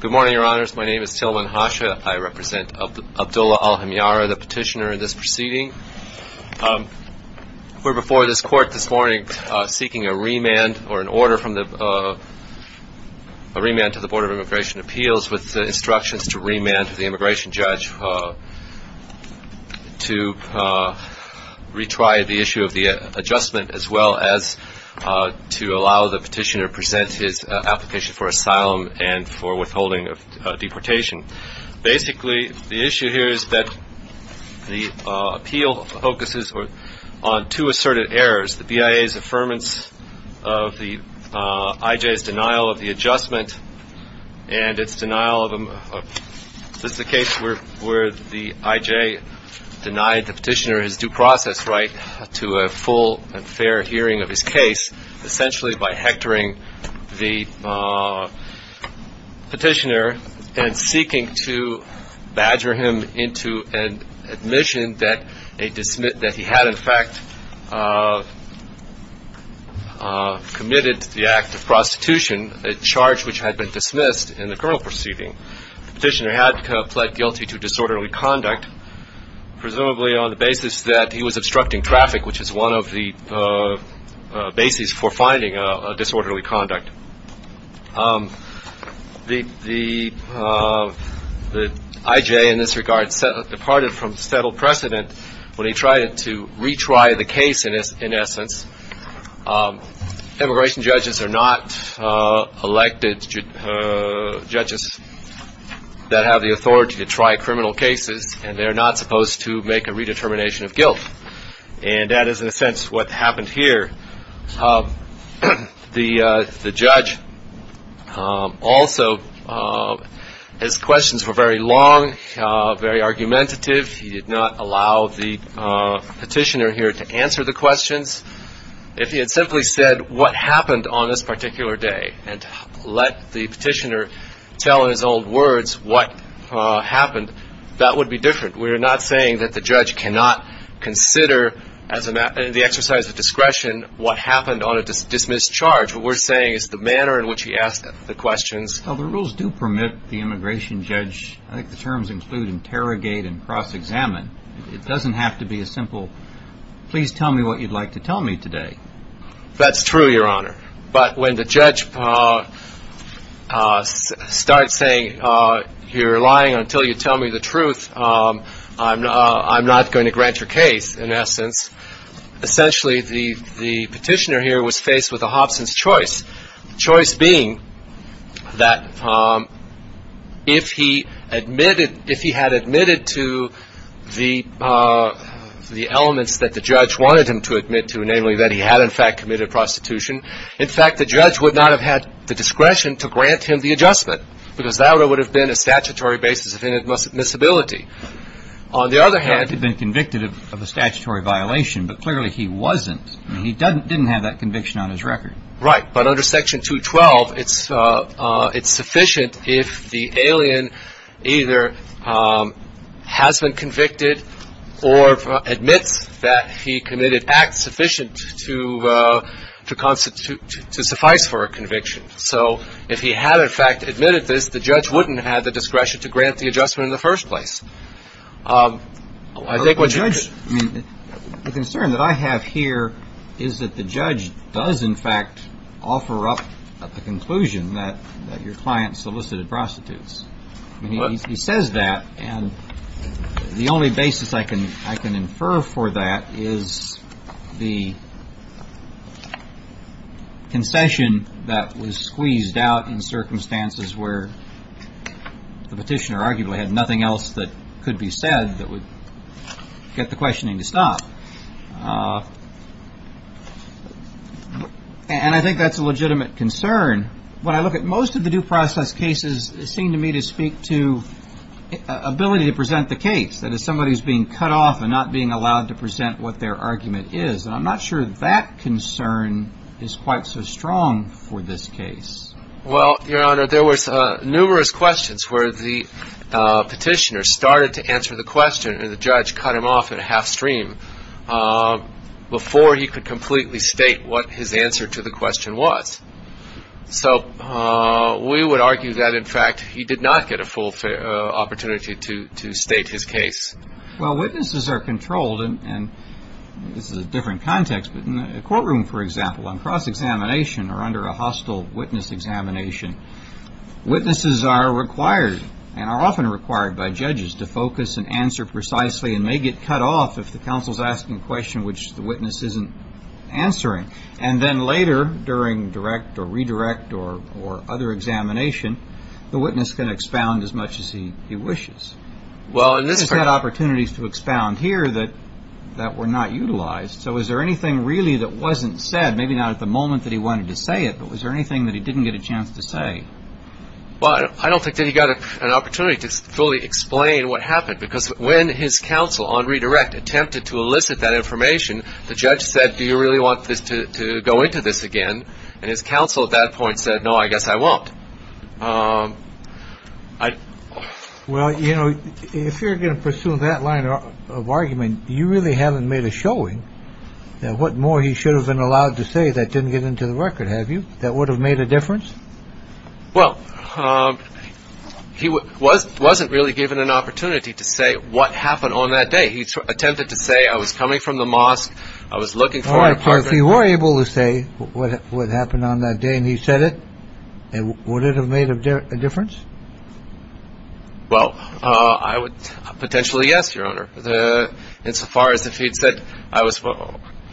Good morning, Your Honors. My name is Tillman Hasha. I represent Abdullah Al Hemyare, the petitioner in this proceeding. We're before this court this morning seeking a remand or an order from the, a remand to the Board of Immigration Appeals with instructions to remand the immigration judge to retry the issue of the adjustment as well as to allow the petitioner to present his application for asylum and for withholding of deportation. Basically, the issue here is that the appeal focuses on two asserted errors, the BIA's affirmance of the IJ's denial of the adjustment and its denial of, this is a case where the IJ denied the petitioner his due process right to a full and fair hearing of his case, essentially by hectoring the petitioner and seeking to badger him into an admission that a, that he had in fact committed the act of prostitution, a charge which had been dismissed in the criminal proceeding. The petitioner had pled guilty to disorderly conduct, presumably on the basis that he was obstructing traffic, which is one of the bases for finding a disorderly conduct. The IJ in this regard departed from settled precedent when he tried to retry the case in essence. Immigration judges are not elected judges that have the authority to commit guilt. And that is in a sense what happened here. The judge also, his questions were very long, very argumentative. He did not allow the petitioner here to answer the questions. If he had simply said what happened on this particular day and let the petitioner tell in his own words what happened, that would be different. We are not saying that the judge cannot consider as a matter, in the exercise of discretion, what happened on a dismissed charge. What we are saying is the manner in which he asked the questions. Well, the rules do permit the immigration judge, I think the terms include interrogate and cross-examine. It does not have to be a simple, please tell me what you would like to tell me today. That is true, your honor. But when the judge starts saying you are lying until you tell me the truth, I am not going to grant your case in essence. Essentially, the petitioner here was faced with a Hobson's choice. Choice being that if he admitted, if he had admitted to the elements that the judge wanted him to admit to, namely that he had in fact committed prostitution, in fact the judge would not have had the discretion to grant him the adjustment because that would have been a statutory basis of inadmissibility. On the other hand... He could have been convicted of a statutory violation, but clearly he wasn't. He didn't have that conviction on his record. Right. But under section 212, it is sufficient if the alien either has been convicted or admits that he committed acts sufficient to constitute, to suffice for a conviction. So if he had in fact admitted this, the judge wouldn't have had the discretion to grant the adjustment in the first place. I think what judge... The concern that I have here is that the judge does in fact offer up the conclusion that your client solicited prostitutes. He says that and the only basis I can infer for that is the concession that was squeezed out in circumstances where the petitioner arguably had nothing else that could be said that would get the questioning to stop. And I think that's a legitimate concern. When I look at most of the due process cases, it seemed to me to speak to ability to present the case. That is, somebody's being cut off and not being allowed to present what their argument is. And I'm not sure that concern is quite so strong for this case. Well, Your Honor, there was numerous questions where the petitioner started to answer the question and the judge cut him off at a half stream before he could completely state what his answer to the question was. So we would argue that in fact he did not get a full opportunity to state his case. Well, witnesses are controlled, and this is a different context, but in a courtroom, for example, on cross-examination or under a hostile witness examination, witnesses are required and are often required by judges to focus and answer precisely and may get cut off if the counsel is asking a question which the witness isn't answering. And then later, during direct or redirect or other examination, the witness can expound as much as he wishes. Well, in this case... He's had opportunities to expound here that were not utilized. So is there anything really that wasn't said, maybe not at the moment that he wanted to say it, but was there anything that he didn't get a chance to say? Well, I don't think that he got an opportunity to fully explain what happened, because when his counsel on redirect attempted to elicit that information, the judge said, do you really want this to go into this again? And his counsel at that point said, no, I guess I won't. Well, you know, if you're going to pursue that line of argument, you really haven't made a showing that what more he should have been allowed to say that didn't get into the record, have you, that would have made a difference? Well, he wasn't really given an opportunity to say what happened on that day. He attempted to say, I was coming from the mosque, I was looking for an apartment... All right, so if he were able to say what happened on that day and he said it, would it have made a difference? Well, I would potentially, yes, Your Honor. Insofar as if he'd said...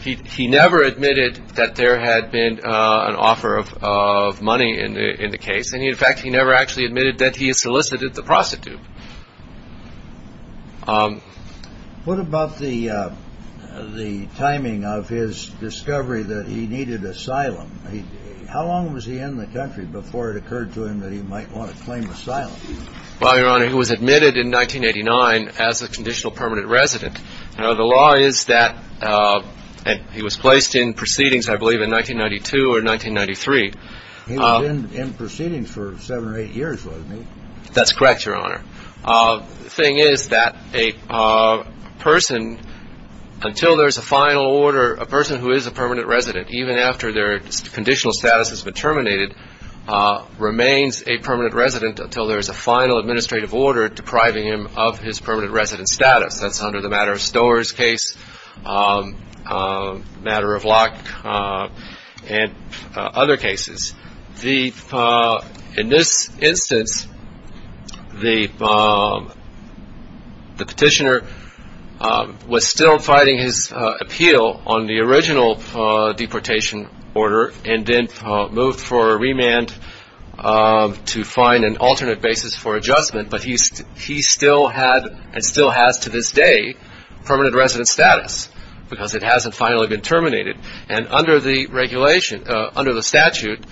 He never admitted that there had been an offer of money in the case, and in fact, he never actually admitted that he had solicited the prostitute. What about the timing of his discovery that he needed asylum? How long was he in the country before it occurred to him that he might want to claim asylum? Well, Your Honor, he was admitted in 1989 as a conditional permanent resident. The law is that he was placed in proceedings, I believe, in 1992 or 1993. He was in proceedings for seven or eight years, wasn't he? That's correct, Your Honor. The thing is that a person, until there's a final order, a person who is a permanent resident, even after their conditional status has been terminated, remains a permanent resident until there's a final administrative order depriving him of his status, matter of lock, and other cases. In this instance, the petitioner was still fighting his appeal on the original deportation order and then moved for a remand to find an alternate basis for adjustment, but he still had, and still has to this day, permanent resident status because it hasn't finally been terminated. And under the regulation, under the statute,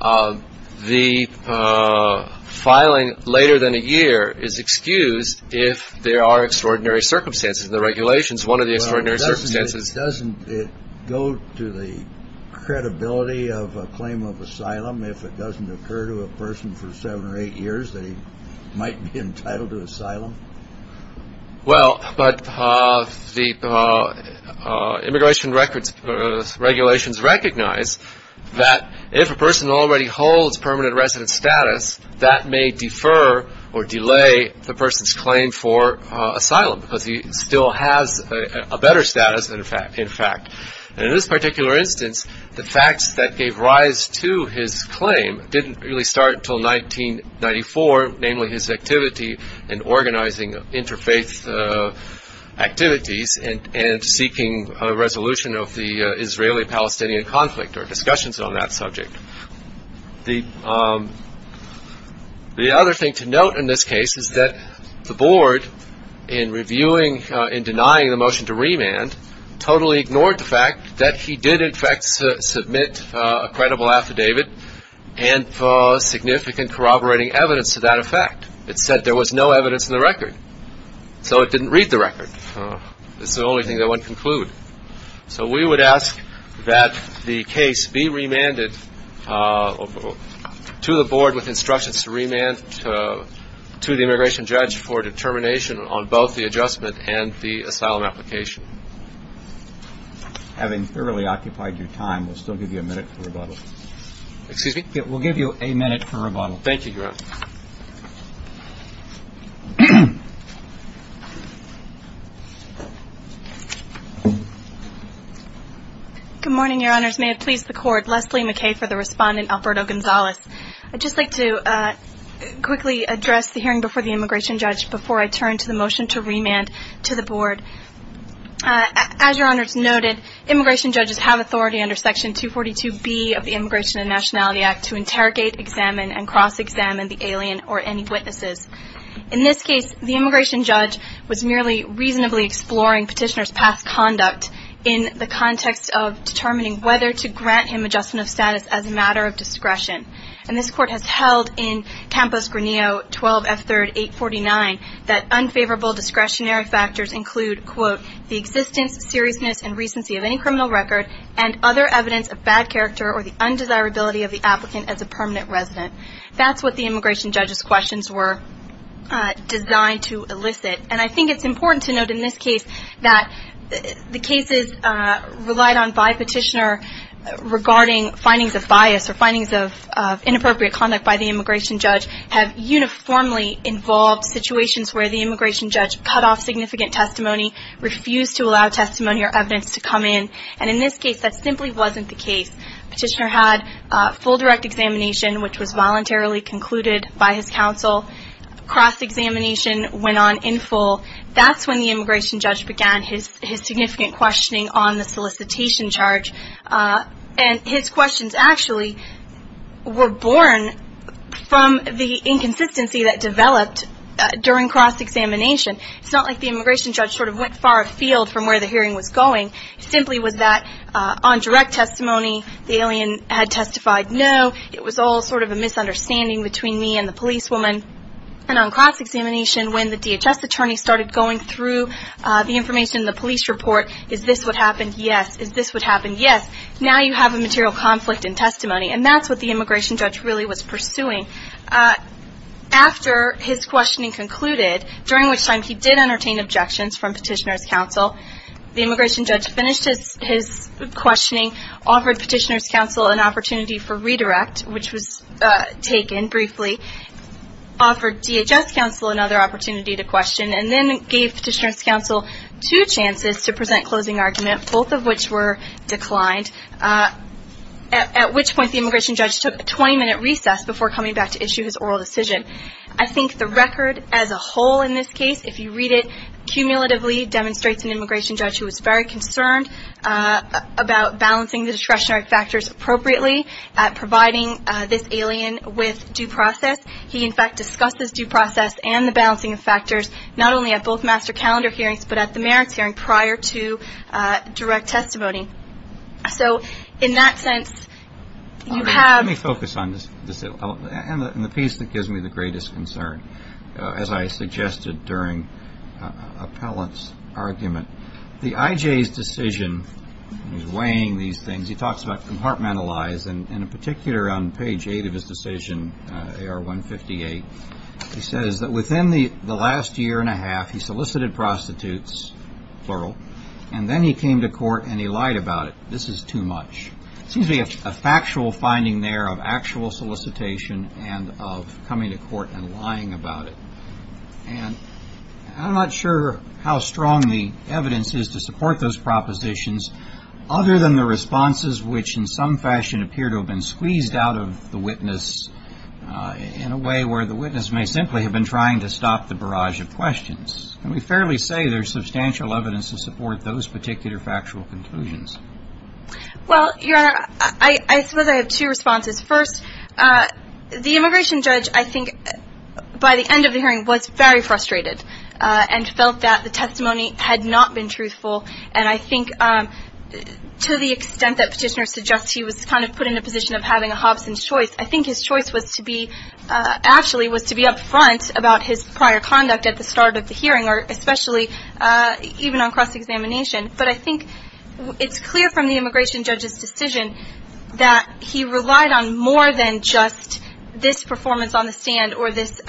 the filing later than a year is excused if there are extraordinary circumstances. The regulation is one of the extraordinary circumstances. Doesn't it go to the credibility of a claim of asylum if it doesn't occur to a person for seven or eight years that he might be entitled to asylum? Well, but the immigration regulations recognize that if a person already holds permanent resident status, that may defer or delay the person's claim for asylum because he still has a better status, in fact. And in this particular instance, the facts that gave rise to his claim didn't really start until 1994, namely his activity in organizing interfaith activities and seeking a resolution of the Israeli-Palestinian conflict or discussions on that subject. The other thing to note in this case is that the board, in reviewing and denying the motion to remand, totally ignored the fact that he did in fact submit a credible affidavit and saw significant corroborating evidence to that effect. It said there was no evidence in the record. So it didn't read the record. It's the only thing that wouldn't conclude. So we would ask that the case be remanded to the board with instructions to remand to the immigration judge for determination on both the adjustment and the asylum application. Having thoroughly occupied your time, we'll still give you a minute for rebuttal. Excuse me? We'll give you a minute for rebuttal. Thank you, Your Honor. Good morning, Your Honors. May it please the Court, Leslie McKay for the Respondent, Alberto Gonzalez. I'd just like to quickly address the hearing before the immigration judge before I turn to the motion to remand to the board. As Your Honors noted, immigration judges have to interrogate, examine, and cross-examine the alien or any witnesses. In this case, the immigration judge was merely reasonably exploring petitioner's past conduct in the context of determining whether to grant him adjustment of status as a matter of discretion. And this Court has held in Campos-Granillo 12F3rd 849 that unfavorable discretionary factors include, quote, the existence, seriousness, and recency of any criminal record and other evidence of bad character or the undesirability of the applicant as a permanent resident. That's what the immigration judge's questions were designed to elicit. And I think it's important to note in this case that the cases relied on by petitioner regarding findings of bias or findings of inappropriate conduct by the immigration judge have uniformly involved situations where the immigration judge cut off significant testimony, refused to allow testimony or evidence to come in. And in this case, that simply wasn't the case. Petitioner had full direct examination, which was voluntarily concluded by his counsel. Cross-examination went on in full. That's when the immigration judge began his significant questioning on the solicitation charge. And his questions actually were born from the inconsistency that developed during cross-examination. It's not like the immigration judge sort of went far afield from where the hearing was going. It simply was that on direct testimony, the alien had testified no. It was all sort of a misunderstanding between me and the policewoman. And on cross-examination, when the DHS attorney started going through the information in the police report, is this what happened? Yes. Is this what happened? Yes. Now you have a material conflict in testimony. And that's what the immigration judge really was pursuing. After his questioning concluded, during which time he did entertain objections from petitioner counsel, the immigration judge finished his questioning, offered petitioner's counsel an opportunity for redirect, which was taken briefly, offered DHS counsel another opportunity to question, and then gave petitioner's counsel two chances to present closing argument, both of which were declined, at which point the immigration judge took a 20-minute recess before coming back to issue his oral decision. I think the record as a whole in this case, if you read it, cumulatively demonstrates an immigration judge who was very concerned about balancing the discretionary factors appropriately at providing this alien with due process. He, in fact, discussed this due process and the balancing of factors, not only at both master calendar hearings, but at the merits hearing prior to direct testimony. So in that sense, you have... Let me focus on this, and the piece that I think is the most interesting appellant's argument. The IJ's decision, he's weighing these things, he talks about compartmentalize, and in particular on page 8 of his decision, AR 158, he says that within the last year and a half, he solicited prostitutes, plural, and then he came to court and he lied about it. This is too much. It seems to be a factual finding there of actual solicitation and of coming to court and lying about it. I'm not sure how strong the evidence is to support those propositions, other than the responses which in some fashion appear to have been squeezed out of the witness in a way where the witness may simply have been trying to stop the barrage of questions. Can we fairly say there's substantial evidence to support those particular factual conclusions? Well, Your Honor, I suppose I have two responses. First, the immigration judge, I think, by the end of the hearing was very frustrated and felt that the testimony had not been truthful, and I think to the extent that petitioner suggests he was kind of put in a position of having a Hobson's choice, I think his choice was to be, actually was to be up front about his prior conduct at the start of the hearing, or especially even on cross-examination. But I think it's clear from the immigration judge's decision that he relied on more than just this performance on the stand or this,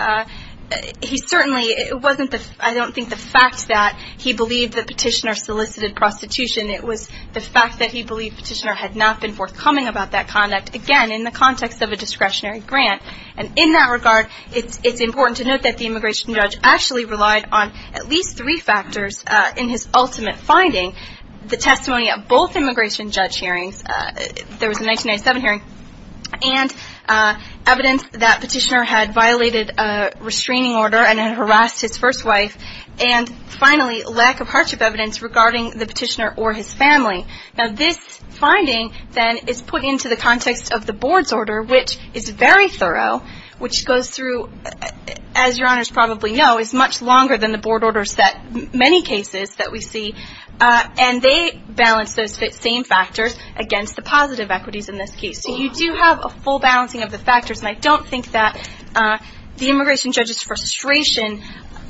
he certainly, it wasn't the, I don't think the fact that he believed that petitioner solicited prostitution, it was the fact that he believed petitioner had not been forthcoming about that conduct, again, in the context of a discretionary grant. And in that regard, it's important to note that the immigration judge actually relied on at least three factors in his ultimate finding. The testimony of both immigration judge hearings, there was a 1997 hearing, and evidence that petitioner had violated a restraining order and had harassed his first wife, and finally, lack of hardship evidence regarding the petitioner or his family. Now this finding, then, is put into the context of the board's order, which is very thorough, which goes through, as your honors probably know, is much longer than the board orders that many cases that we see, and they balance those same factors against the positive equities in this case. So you do have a full balancing of the factors, and I don't think that the immigration judge's frustration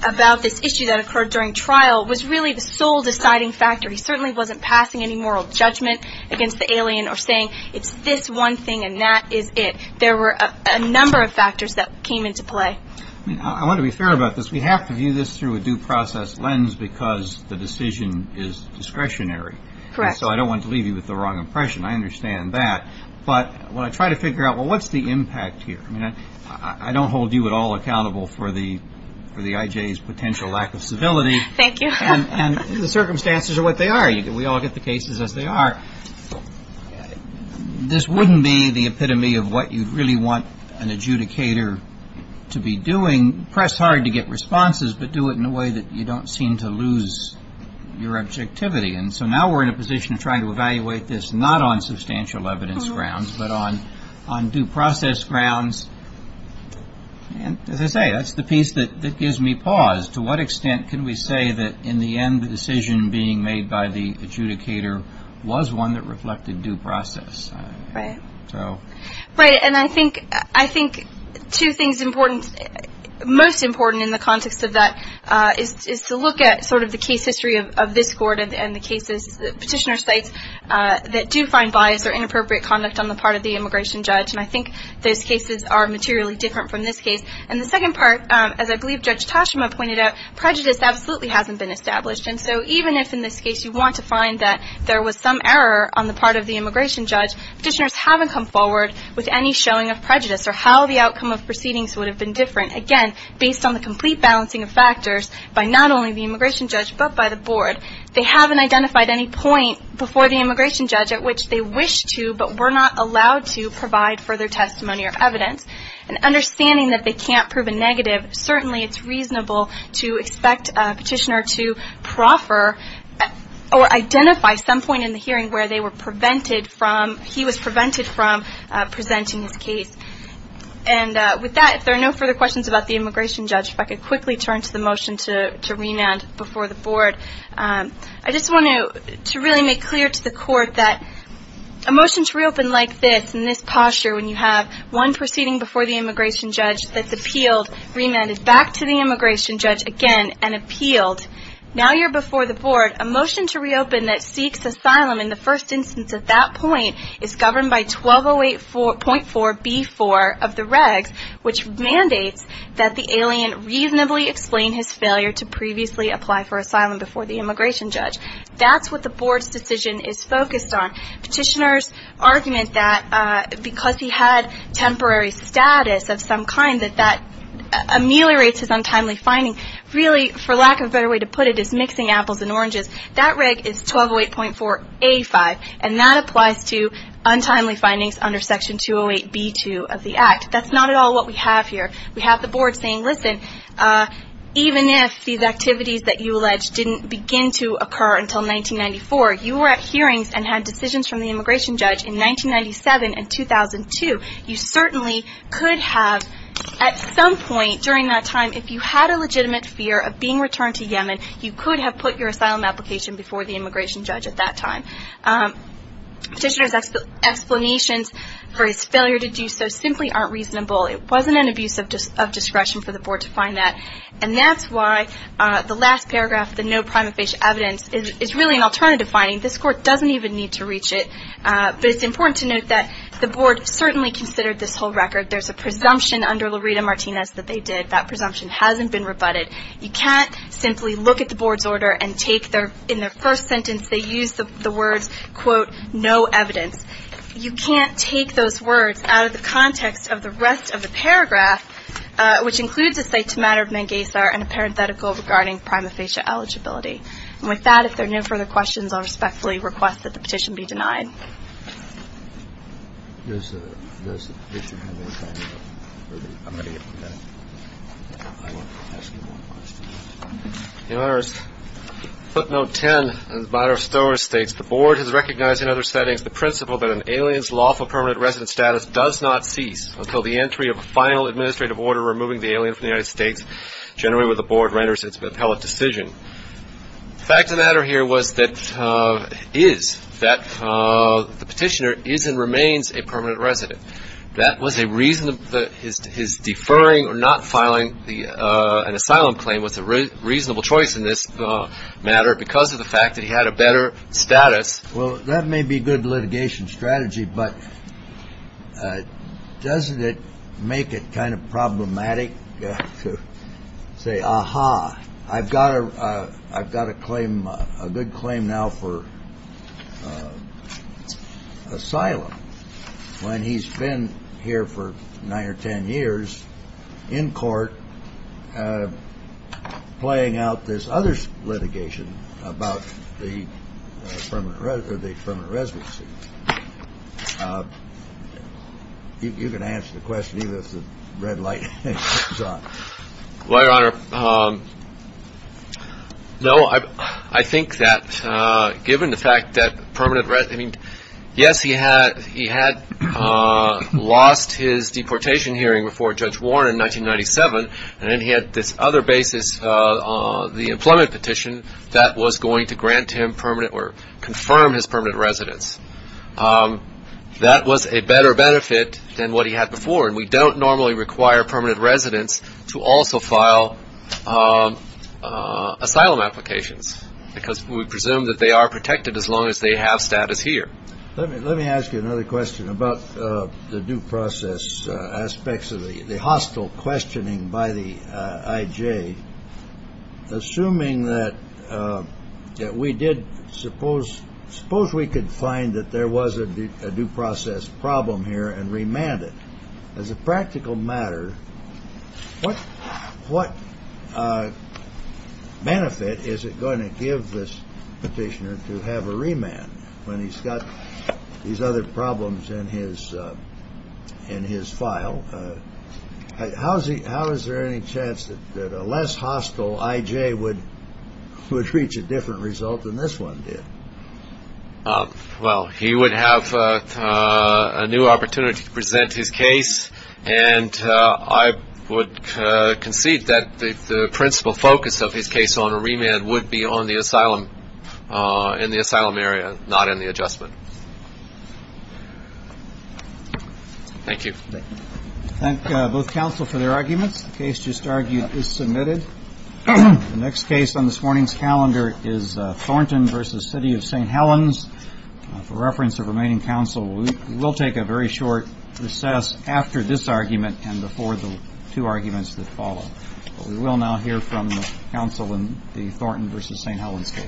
about this issue that occurred during trial was really the sole deciding factor. He certainly wasn't passing any moral judgment against the alien or saying, it's this one thing and that is it. There were a number of factors that came into play. I mean, I want to be fair about this. We have to view this through a due process lens because the decision is discretionary, and so I don't want to leave you with the wrong impression. I understand that. But when I try to figure out, well, what's the impact here? I mean, I don't hold you at all accountable for the IJ's potential lack of civility, and the circumstances are what they are. We all get the cases as they are. This wouldn't be the epitome of what you'd really want an adjudicator to be doing. Press hard to get responses, but do it in a way that you don't seem to lose your objectivity. And so now we're in a position of trying to evaluate this not on substantial evidence grounds, but on due process grounds. And as I say, that's the piece that gives me pause. To what extent can we say that in the end, the decision being made by the adjudicator was one that reflected due process? Right. And I think two things most important in the context of that is to look at sort of the case history of this court and the cases, petitioner sites, that do find bias or inappropriate conduct on the part of the immigration judge. And I think those cases are materially different from this case. And the second part, as I believe Judge Toshima pointed out, prejudice absolutely hasn't been established. And so even if in this case you want to find that there was some error on the part of the immigration judge, petitioners haven't come forward with any showing of prejudice or how the outcome of proceedings would have been different. Again, based on the complete balancing of factors by not only the immigration judge, but by the board, they haven't identified any point before the immigration judge at which they wish to, but were not allowed to provide further testimony or evidence. And it's reasonable to expect a petitioner to proffer or identify some point in the hearing where they were prevented from, he was prevented from presenting his case. And with that, if there are no further questions about the immigration judge, if I could quickly turn to the motion to remand before the board. I just want to really make clear to the court that a motion to reopen like this, in this posture, when you have one proceeding before the immigration judge that's appealed, remanded back to the immigration judge again and appealed, now you're before the board. A motion to reopen that seeks asylum in the first instance at that point is governed by 1208.4B4 of the regs, which mandates that the alien reasonably explain his failure to previously apply for asylum before the immigration judge. That's what the board's decision is focused on. Petitioners argument that because he had temporary status of some kind that that ameliorates his untimely finding. Really, for lack of a better way to put it, is mixing apples and oranges. That reg is 1208.4A5, and that applies to untimely findings under section 208B2 of the act. That's not at all what we have here. We have the board saying, listen, even if these activities that you allege didn't begin to occur until 1994, you were at hearings and had decisions from the immigration judge in 1997 and 2002. You certainly could have, at some point during that time, if you had a legitimate fear of being returned to Yemen, you could have put your asylum application before the immigration judge at that time. Petitioner's explanations for his failure to do so simply aren't reasonable. It wasn't an abuse of discretion for the board to find that, and that's why the last paragraph, the no prima facie evidence, is really an alternative finding. This court doesn't even need to reach it, but it's important to note that the board certainly considered this whole record. There's a presumption under Lareda Martinez that they did. That presumption hasn't been rebutted. You can't simply look at the board's order and take their, in their first sentence, they use the words, quote, no evidence. You can't take those words out of the context of the rest of the paragraph, which includes a site to matter of Mengesar and a parenthetical regarding prima facie eligibility. With that, if there are no further questions, I'll respectfully request that the petition be denied. I'm going to get to that. I want to ask you one question. Your Honor, footnote 10 in the matter of storage states, the board has recognized in other settings the principle that an alien's lawful permanent resident status does not cease until the entry of a final administrative order removing the alien from the United States generally where the board renders its appellate decision. The fact of the matter here was that the petitioner is and remains a permanent resident. That was a reason that his deferring or not filing an asylum claim was a reasonable choice in this matter because of the fact that he had a better status. Well, that may be good litigation strategy, but doesn't it make it kind of problematic to say, aha, I've got a claim, a good claim now for asylum when he's been here for nine or ten years in court playing out this other litigation about the permanent residency? You can answer the question, either it's a red light or a green light. Well, Your Honor, no, I think that given the fact that permanent resident, I mean, yes, he had lost his deportation hearing before Judge Warren in 1997, and then he had this other basis on the employment petition that was going to grant him permanent or confirm his permanent residence. That was a better benefit than what he had before, and we don't normally require permanent residents to also file asylum applications because we presume that they are protected as long as they have status here. Let me ask you another question about the due process aspects of the hostile questioning by the IJ. Assuming that we did suppose we could find that there was a due process problem here and remand it. As a practical matter, what benefit is it going to give this petitioner to have a remand when he's got these other problems in his file? How is there any chance that a less hostile IJ would reach a different result than this one did? Well, he would have a new opportunity to present his case, and I would concede that the principal focus of his case on a remand would be on the asylum, in the asylum area, not in the adjustment. Thank you. Thank both counsel for their arguments. The case just argued is submitted. The next case on this morning's calendar is Thornton v. City of St. Helens. For reference of remaining counsel, we will take a very short recess after this argument and before the two arguments that follow. We will now hear from counsel in the Thornton v. St. Helens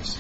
case.